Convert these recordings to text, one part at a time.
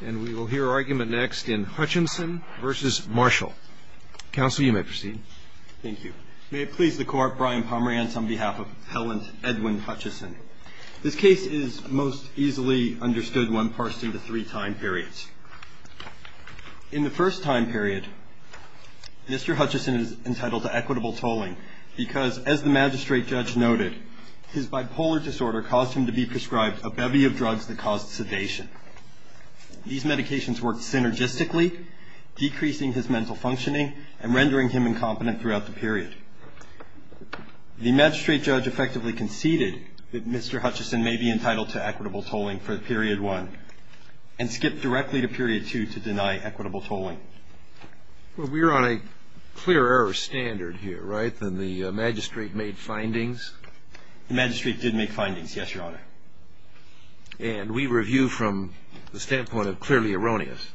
and we will hear argument next in Hutchinson versus Marshall counsel you may proceed thank you may it please the court Brian Pomerance on behalf of Helen Edwin Hutchison this case is most easily understood when parsed into three time periods in the first time period mr. Hutchison is entitled to equitable tolling because as the magistrate judge noted his bipolar disorder caused him to be prescribed a bevy of drugs that caused sedation these medications worked synergistically decreasing his mental functioning and rendering him incompetent throughout the period the magistrate judge effectively conceded that mr. Hutchison may be entitled to equitable tolling for the period one and skip directly to period two to deny equitable tolling well we're on a clear error standard here right then the magistrate made findings the magistrate did make findings yes your honor and we review from the standpoint of clearly erroneous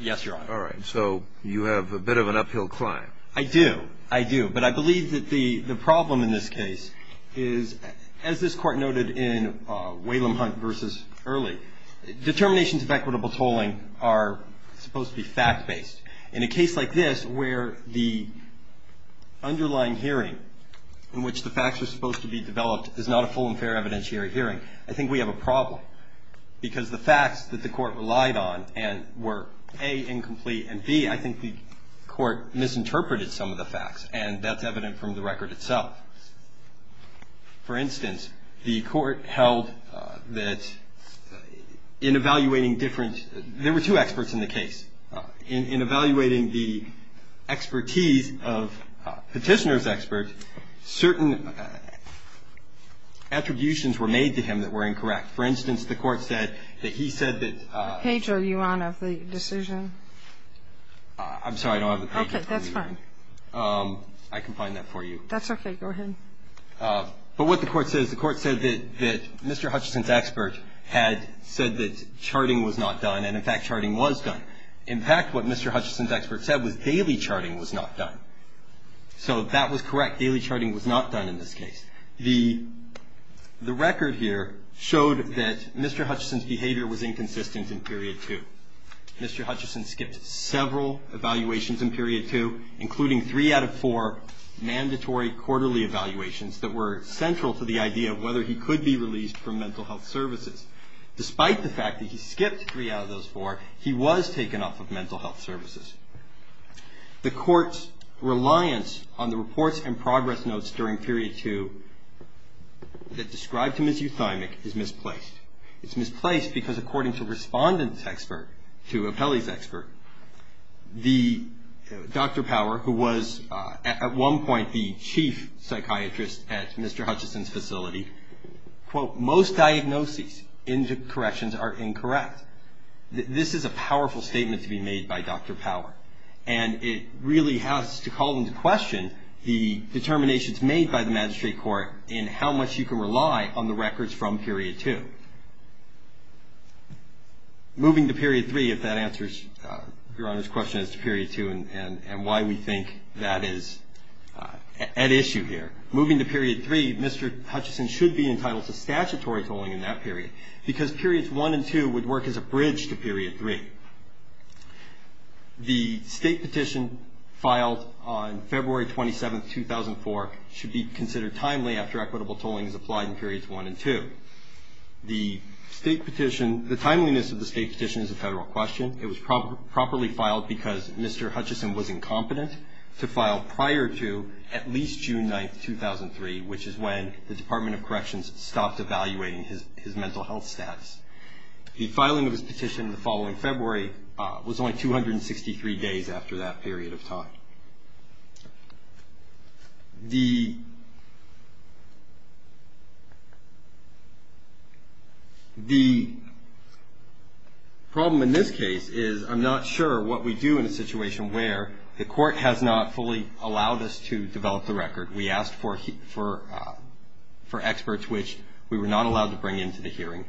yes your honor all right so you have a bit of an uphill climb I do I do but I believe that the the problem in this case is as this court noted in Whalum Hunt versus early determinations of equitable tolling are supposed to be fact-based in a case like this where the underlying hearing in which the facts are supposed to be developed is not a full and fair evidentiary hearing I think we have a problem because the facts that the court relied on and were a incomplete and B I think the court misinterpreted some of the facts and that's evident from the record itself for instance the court held that in evaluating different there were two experts in the case in evaluating the expertise of petitioners Mr. Hutchinson's expert certain attributions were made to him that were incorrect for instance the court said that he said that page are you on of the decision I'm sorry I don't have a page okay that's fine I can find that for you that's okay go ahead but what the court says the court said that that Mr. Hutchinson's expert had said that charting was not done and in fact charting was done in fact what Mr. Hutchinson's expert said was daily charting was not done so that was correct daily charting was not done in this case the the record here showed that Mr. Hutchinson's behavior was inconsistent in period two Mr. Hutchinson skipped several evaluations in period two including three out of four mandatory quarterly evaluations that were central to the idea of whether he could be released from mental health services despite the fact that he skipped three out of those four he was taken off of mental health services the court's reliance on the reports and progress notes during period two that described him as euthymic is misplaced it's misplaced because according to respondents expert to appellees expert the Dr. Power who was at one point the chief psychiatrist at Mr. Hutchinson's facility quote most diagnoses into corrections are incorrect this is a powerful statement to be made by Dr. Power and it really has to call into question the determinations made by the magistrate court in how much you can rely on the records from period two moving to period three if that answers your honor's question as to period two and why we think that is at issue here moving to period three Mr. Hutchinson should be entitled to statutory tolling in that period because periods one and two would work as a bridge to period three the state petition filed on February 27th 2004 should be considered timely after equitable tolling is applied in periods one and two the state petition the timeliness of the state petition is a federal question it was properly filed because Mr. Hutchinson was incompetent to file prior to at least June 9th 2003 which is when the Department of Corrections stopped evaluating his mental health status the filing of his petition the following February was only 263 days after that period of time the the problem in this case is I'm not sure what we do in a situation where the court has not fully allowed us to develop the for experts which we were not allowed to bring into the hearing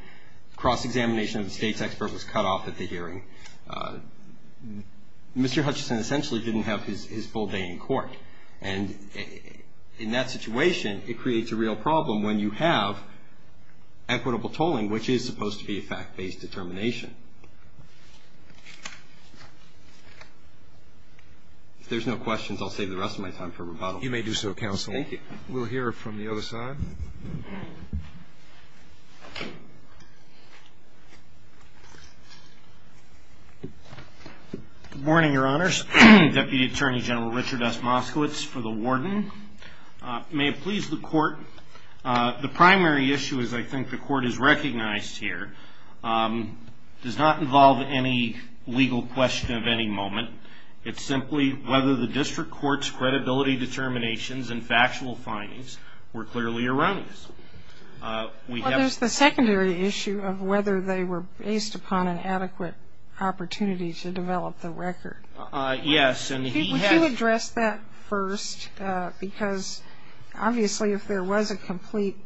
cross-examination of the state's expert was cut off at the hearing Mr. Hutchinson essentially didn't have his full day in court and in that situation it creates a real problem when you have equitable tolling which is supposed to be a fact-based determination if there's no questions I'll save the rest of my time for rebuttal you may do so counsel we'll hear from the other side morning your honors Deputy Attorney General Richard S Moskowitz for the warden may it please the court the primary issue is I think the court is recognized here does not involve any legal question of any moment it's simply whether the district court's credibility determinations and factual findings were clearly around us we have the secondary issue of whether they were based upon an adequate opportunity to develop the record yes and he addressed that first because obviously if there was a complete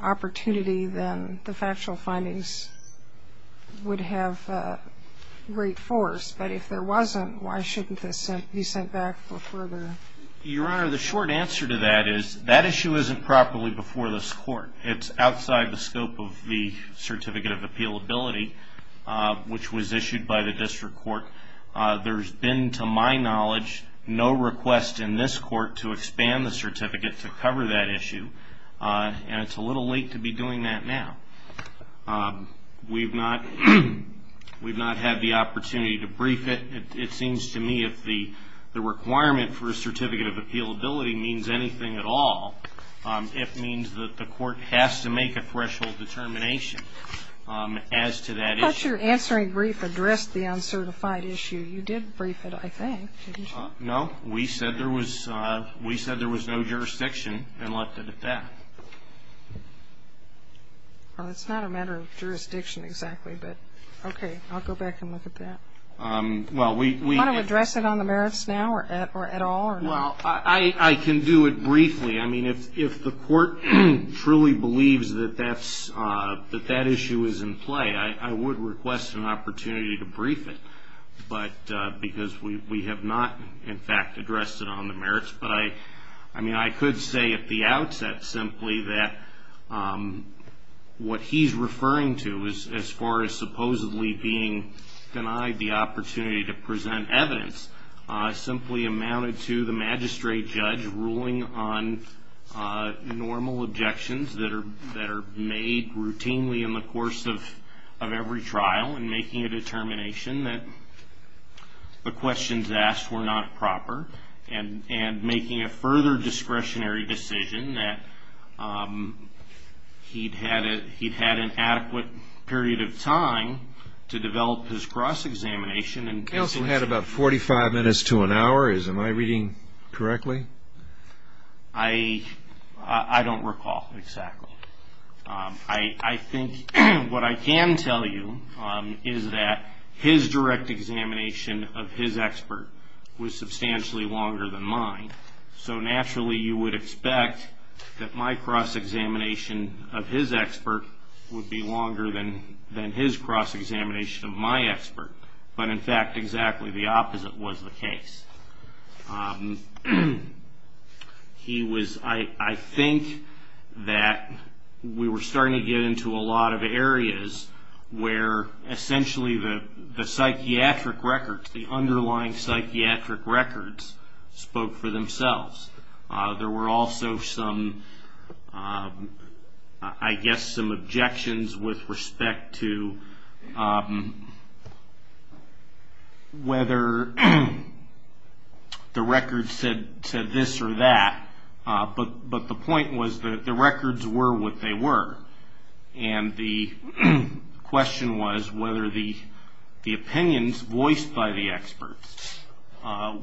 opportunity then the factual findings would have great force but if there wasn't why shouldn't this be sent back for further your honor the short answer to that is that issue isn't properly before this court it's outside the scope of the certificate of appeal ability which was issued by the district court there's been to my knowledge no request in this court to expand the certificate to cover that issue and it's a little late to be doing that now we've not we've not had the the requirement for a certificate of appeal ability means anything at all it means that the court has to make a threshold determination as to that answering brief address the uncertified issue you did brief it I think no we said there was we said there was no jurisdiction and left it at that well it's not a matter of jurisdiction exactly but okay I'll go back and look I can do it briefly I mean if the court truly believes that that's that that issue is in play I would request an opportunity to brief it but because we have not in fact addressed it on the merits but I I mean I could say at the outset simply that what he's referring to is as far as supposedly being denied the opportunity to present evidence I simply amounted to the magistrate judge ruling on normal objections that are that are made routinely in the course of every trial and making a determination that the questions asked were not proper and and making a further discretionary decision that he'd had it he'd had an adequate period of time to develop his cross-examination and counsel had about 45 minutes to an hour is am I reading correctly I I don't recall exactly I I think what I can tell you is that his direct examination of his expert was substantially longer than mine so naturally you would expect that my cross-examination of his expert would be longer than than his cross-examination of my expert but in fact exactly the opposite was the case he was I I think that we were starting to get into a lot of areas where essentially the the psychiatric records the underlying psychiatric records spoke for themselves there were also some I guess some objections with respect to whether the records said this or that but but the point was that the records were what they were and the question was whether the the opinions voiced by the experts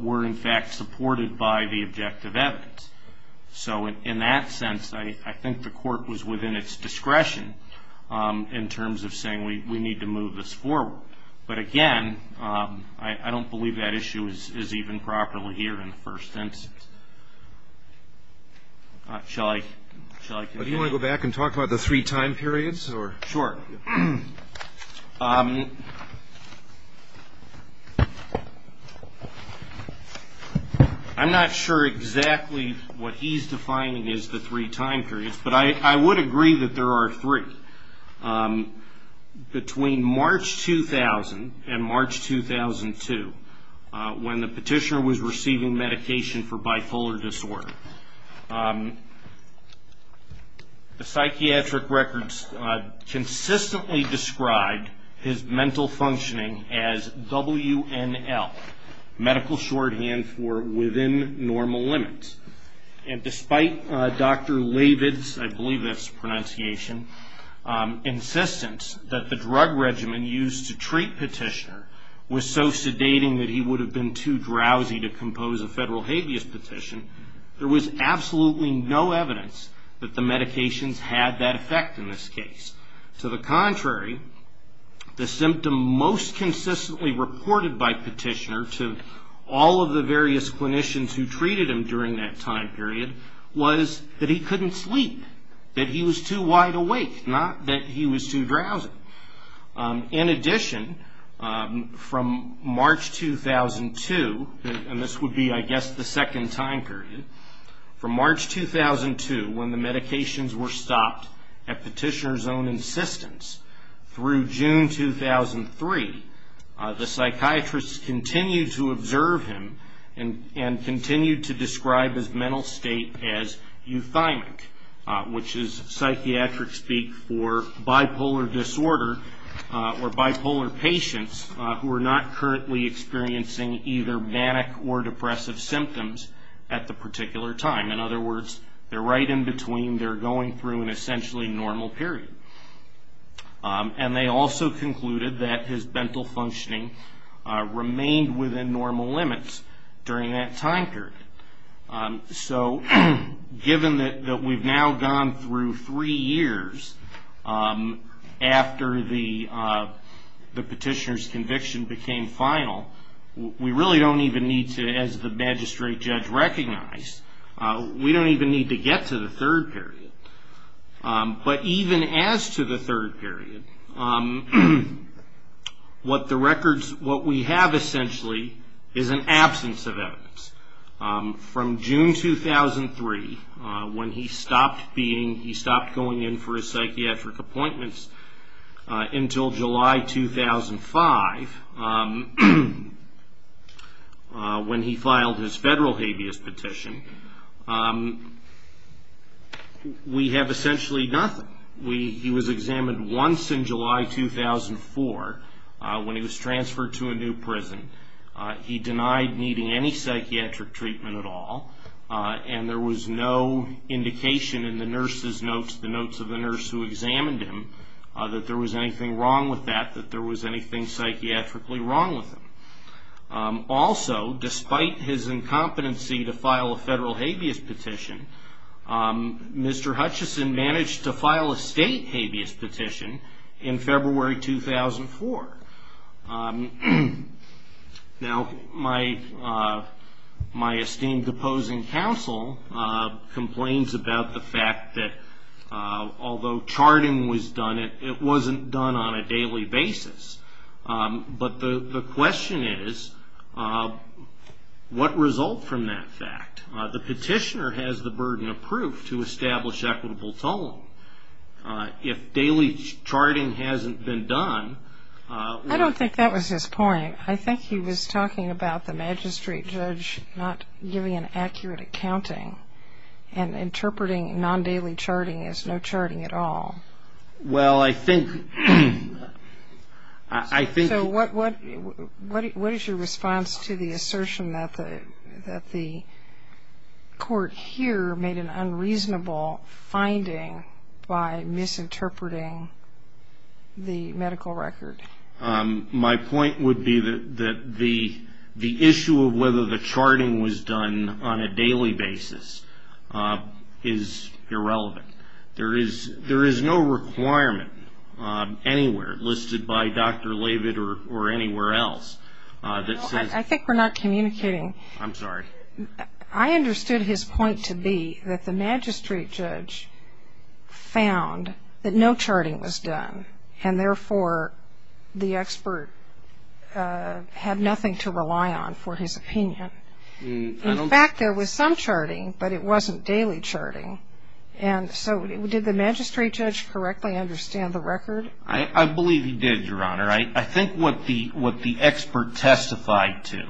were in fact supported by the objective evidence so in that sense I I think the court was within its discretion in terms of saying we we need to move this forward but again I don't believe that issue is even properly here in the first instance shall I do you want to go back and talk about the three time periods or sure I'm not sure exactly what he's defining is the three time periods but I would agree that there are three between March 2000 and March 2002 when the petitioner was receiving medication for bipolar disorder the psychiatric records consistently described his mental functioning as WNL medical shorthand for within normal limits and despite Dr. Lavid's I believe that's pronunciation insistence that the drug regimen used to treat petitioner was so sedating that he would have been too drowsy to compose a federal habeas petition there was absolutely no evidence that the medications had that effect in this case to the contrary the symptom most consistently reported by petitioner to all of the various clinicians who treated him during that time period was that he couldn't sleep that he was too wide awake not that he was too drowsy in March 2002 when the medications were stopped at petitioner's own insistence through June 2003 the psychiatrists continue to observe him and continue to describe his mental state as euthymic which is psychiatric speak for bipolar disorder or bipolar patients who are not currently experiencing either manic or in other words they're right in between they're going through an essentially normal period and they also concluded that his mental functioning remained within normal limits during that time period so given that we've now gone through three years after the petitioner's conviction became final we really don't even need to as the magistrate judge recognized we don't even need to get to the third period but even as to the third period what the records what we have essentially is an absence of evidence from June 2003 when he stopped being he stopped going in for a psychiatric appointments until July 2005 when he filed his federal habeas petition we have essentially nothing we he was examined once in July 2004 when he was transferred to a new prison he denied needing any psychiatric treatment at all and there was no indication in the nurses notes the notes of the nurse who examined him that there was anything wrong with that that there was anything psychiatrically wrong with him also despite his incompetency to file a federal habeas petition Mr. Hutchison managed to file a state habeas petition in February 2004 now my my esteemed opposing counsel complains about the fact that although charting was done it wasn't done on a daily basis but the question is what result from that fact the petitioner has the burden of proof to establish equitable tone if daily charting hasn't been done I don't think that was his point I think he was talking about the magistrate judge not giving an accurate accounting and I think I think what what what is your response to the assertion that the that the court here made an unreasonable finding by misinterpreting the medical record my point would be that that the the issue of whether the charting was done on a daily basis is irrelevant there is there is no requirement anywhere listed by dr. Leavitt or anywhere else I think we're not communicating I'm sorry I understood his point to be that the magistrate judge found that no charting was done and therefore the expert had nothing to rely on for his opinion back there was some charting but it wasn't daily charting and so did the magistrate judge correctly understand the record I believe you did your honor I think what the what the expert testified to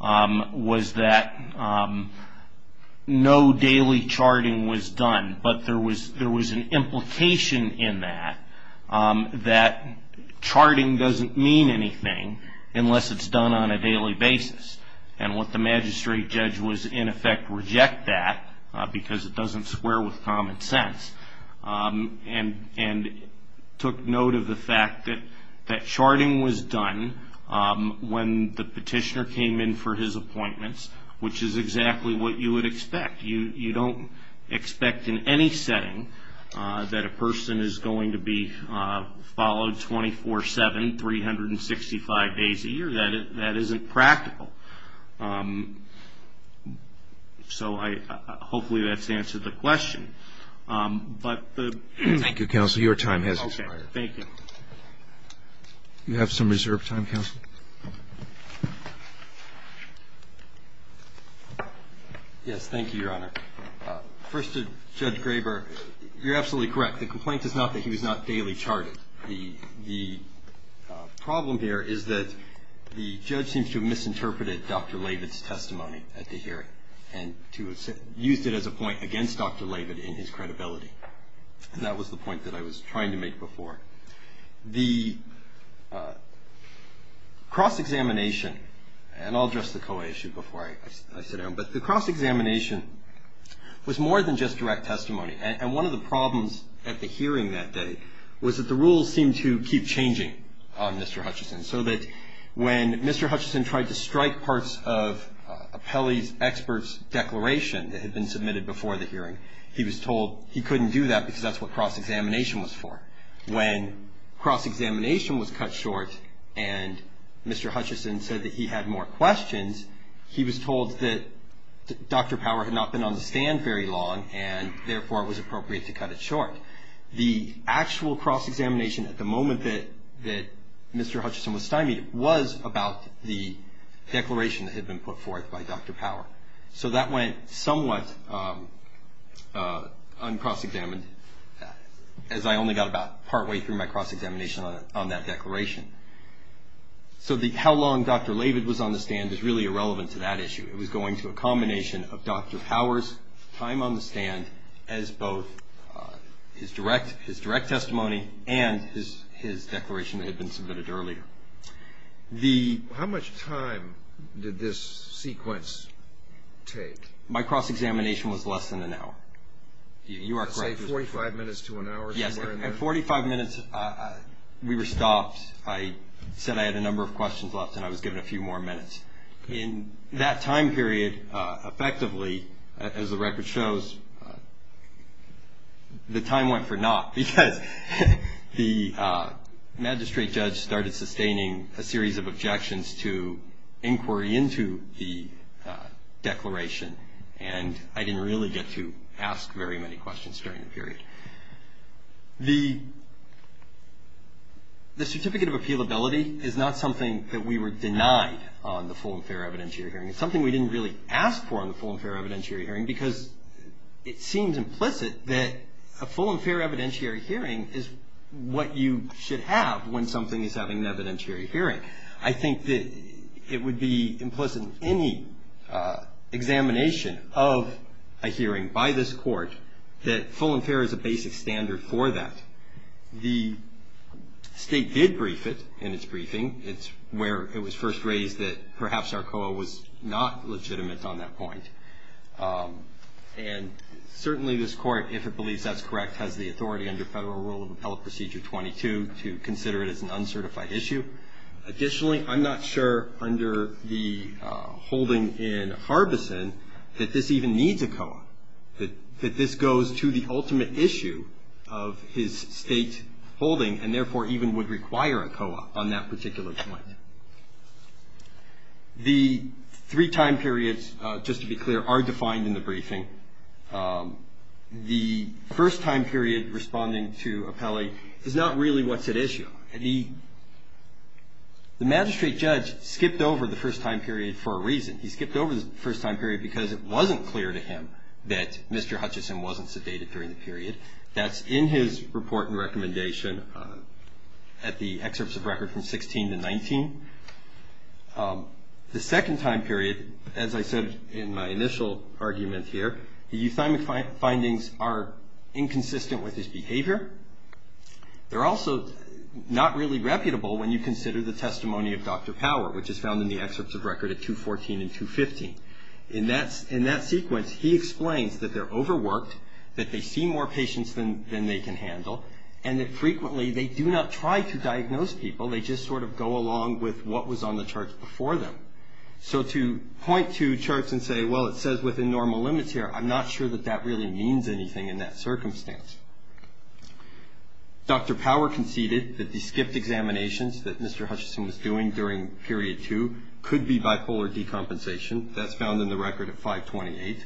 was that no daily charting was done but there was there was an implication in that that charting doesn't mean anything unless it's done on a daily basis and what the magistrate judge was in effect reject that because it doesn't square with common sense and and took note of the fact that that charting was done when the petitioner came in for his appointments which is exactly what you would expect you you don't expect in any setting that a person is going to be followed 24-7 365 days a year that that isn't practical so I hopefully that's answered the question but the thank you counsel your time has expired thank you you have some reserved time counsel yes thank you your honor first to judge Graber you're absolutely correct the complaint is not that he was not daily charted the the problem here is that the judge seems to misinterpreted dr. Leavitt's testimony at the hearing and to use it as a point against dr. Leavitt in his credibility and that was the point that I was trying to make before the cross-examination and I'll address the co-issue before I sit down but the cross-examination was more than just direct testimony and one of the that the rules seem to keep changing on mr. Hutchison so that when mr. Hutchison tried to strike parts of a Pele's experts declaration that had been submitted before the hearing he was told he couldn't do that because that's what cross-examination was for when cross-examination was cut short and mr. Hutchison said that he had more questions he was told that dr. power had not been on the stand very long and therefore it was appropriate to cut it short the actual cross-examination at the moment that that mr. Hutchison was stymied was about the declaration that had been put forth by dr. power so that went somewhat uncross-examined as I only got about partway through my cross-examination on that declaration so the how long dr. Leavitt was on the stand is really irrelevant to that issue it was going to a combination of dr. power's time on the stand as both his direct his direct testimony and his his declaration that had been submitted earlier the how much time did this sequence take my cross-examination was less than an hour you are say 45 minutes to an hour yes at 45 minutes we were stopped I said I had a number of questions left and I was given a few more minutes in that time period effectively as the record shows the time went for not because the magistrate judge started sustaining a series of objections to inquiry into the declaration and I didn't really get to ask very many questions during the period the the certificate of appeal ability is not something that we were really asked for on the full and fair evidentiary hearing because it seems implicit that a full and fair evidentiary hearing is what you should have when something is having an evidentiary hearing I think that it would be implicit in any examination of a hearing by this court that full and fair is a basic standard for that the state did brief it in its briefing it's where it was first raised that perhaps our co-op was not legitimate on that point and certainly this court if it believes that's correct has the authority under federal rule of appellate procedure 22 to consider it as an uncertified issue additionally I'm not sure under the holding in Harbison that this even needs a co-op that that this goes to the ultimate issue of his state holding and the three time periods just to be clear are defined in the briefing the first time period responding to appellate is not really what's at issue and he the magistrate judge skipped over the first time period for a reason he skipped over the first time period because it wasn't clear to him that mr. Hutchison wasn't sedated during the period that's in his report and recommendation at the excerpts of record from 16 to 19 the second time period as I said in my initial argument here the euthymic findings are inconsistent with his behavior they're also not really reputable when you consider the testimony of dr. power which is found in the excerpts of record at 214 and 215 in that's in that sequence he explains that they're overworked that they see more patients than they can handle and that frequently they do not try to diagnose people they just sort of go along with what was on the charts before them so to point to charts and say well it says within normal limits here I'm not sure that that really means anything in that circumstance dr. power conceded that the skipped examinations that mr. Hutchison was doing during period two could be bipolar decompensation that's found in the record at 528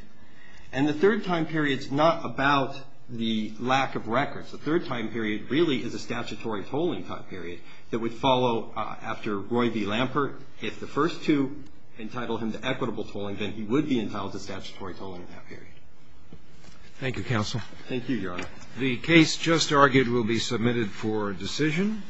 and the third time periods not about the lack of records the third time period really is a statutory tolling time period that would follow after Roy v. Lampert if the first to entitle him to equitable tolling then he would be entitled to statutory tolling that period thank you counsel thank you your the case just argued will be submitted for decision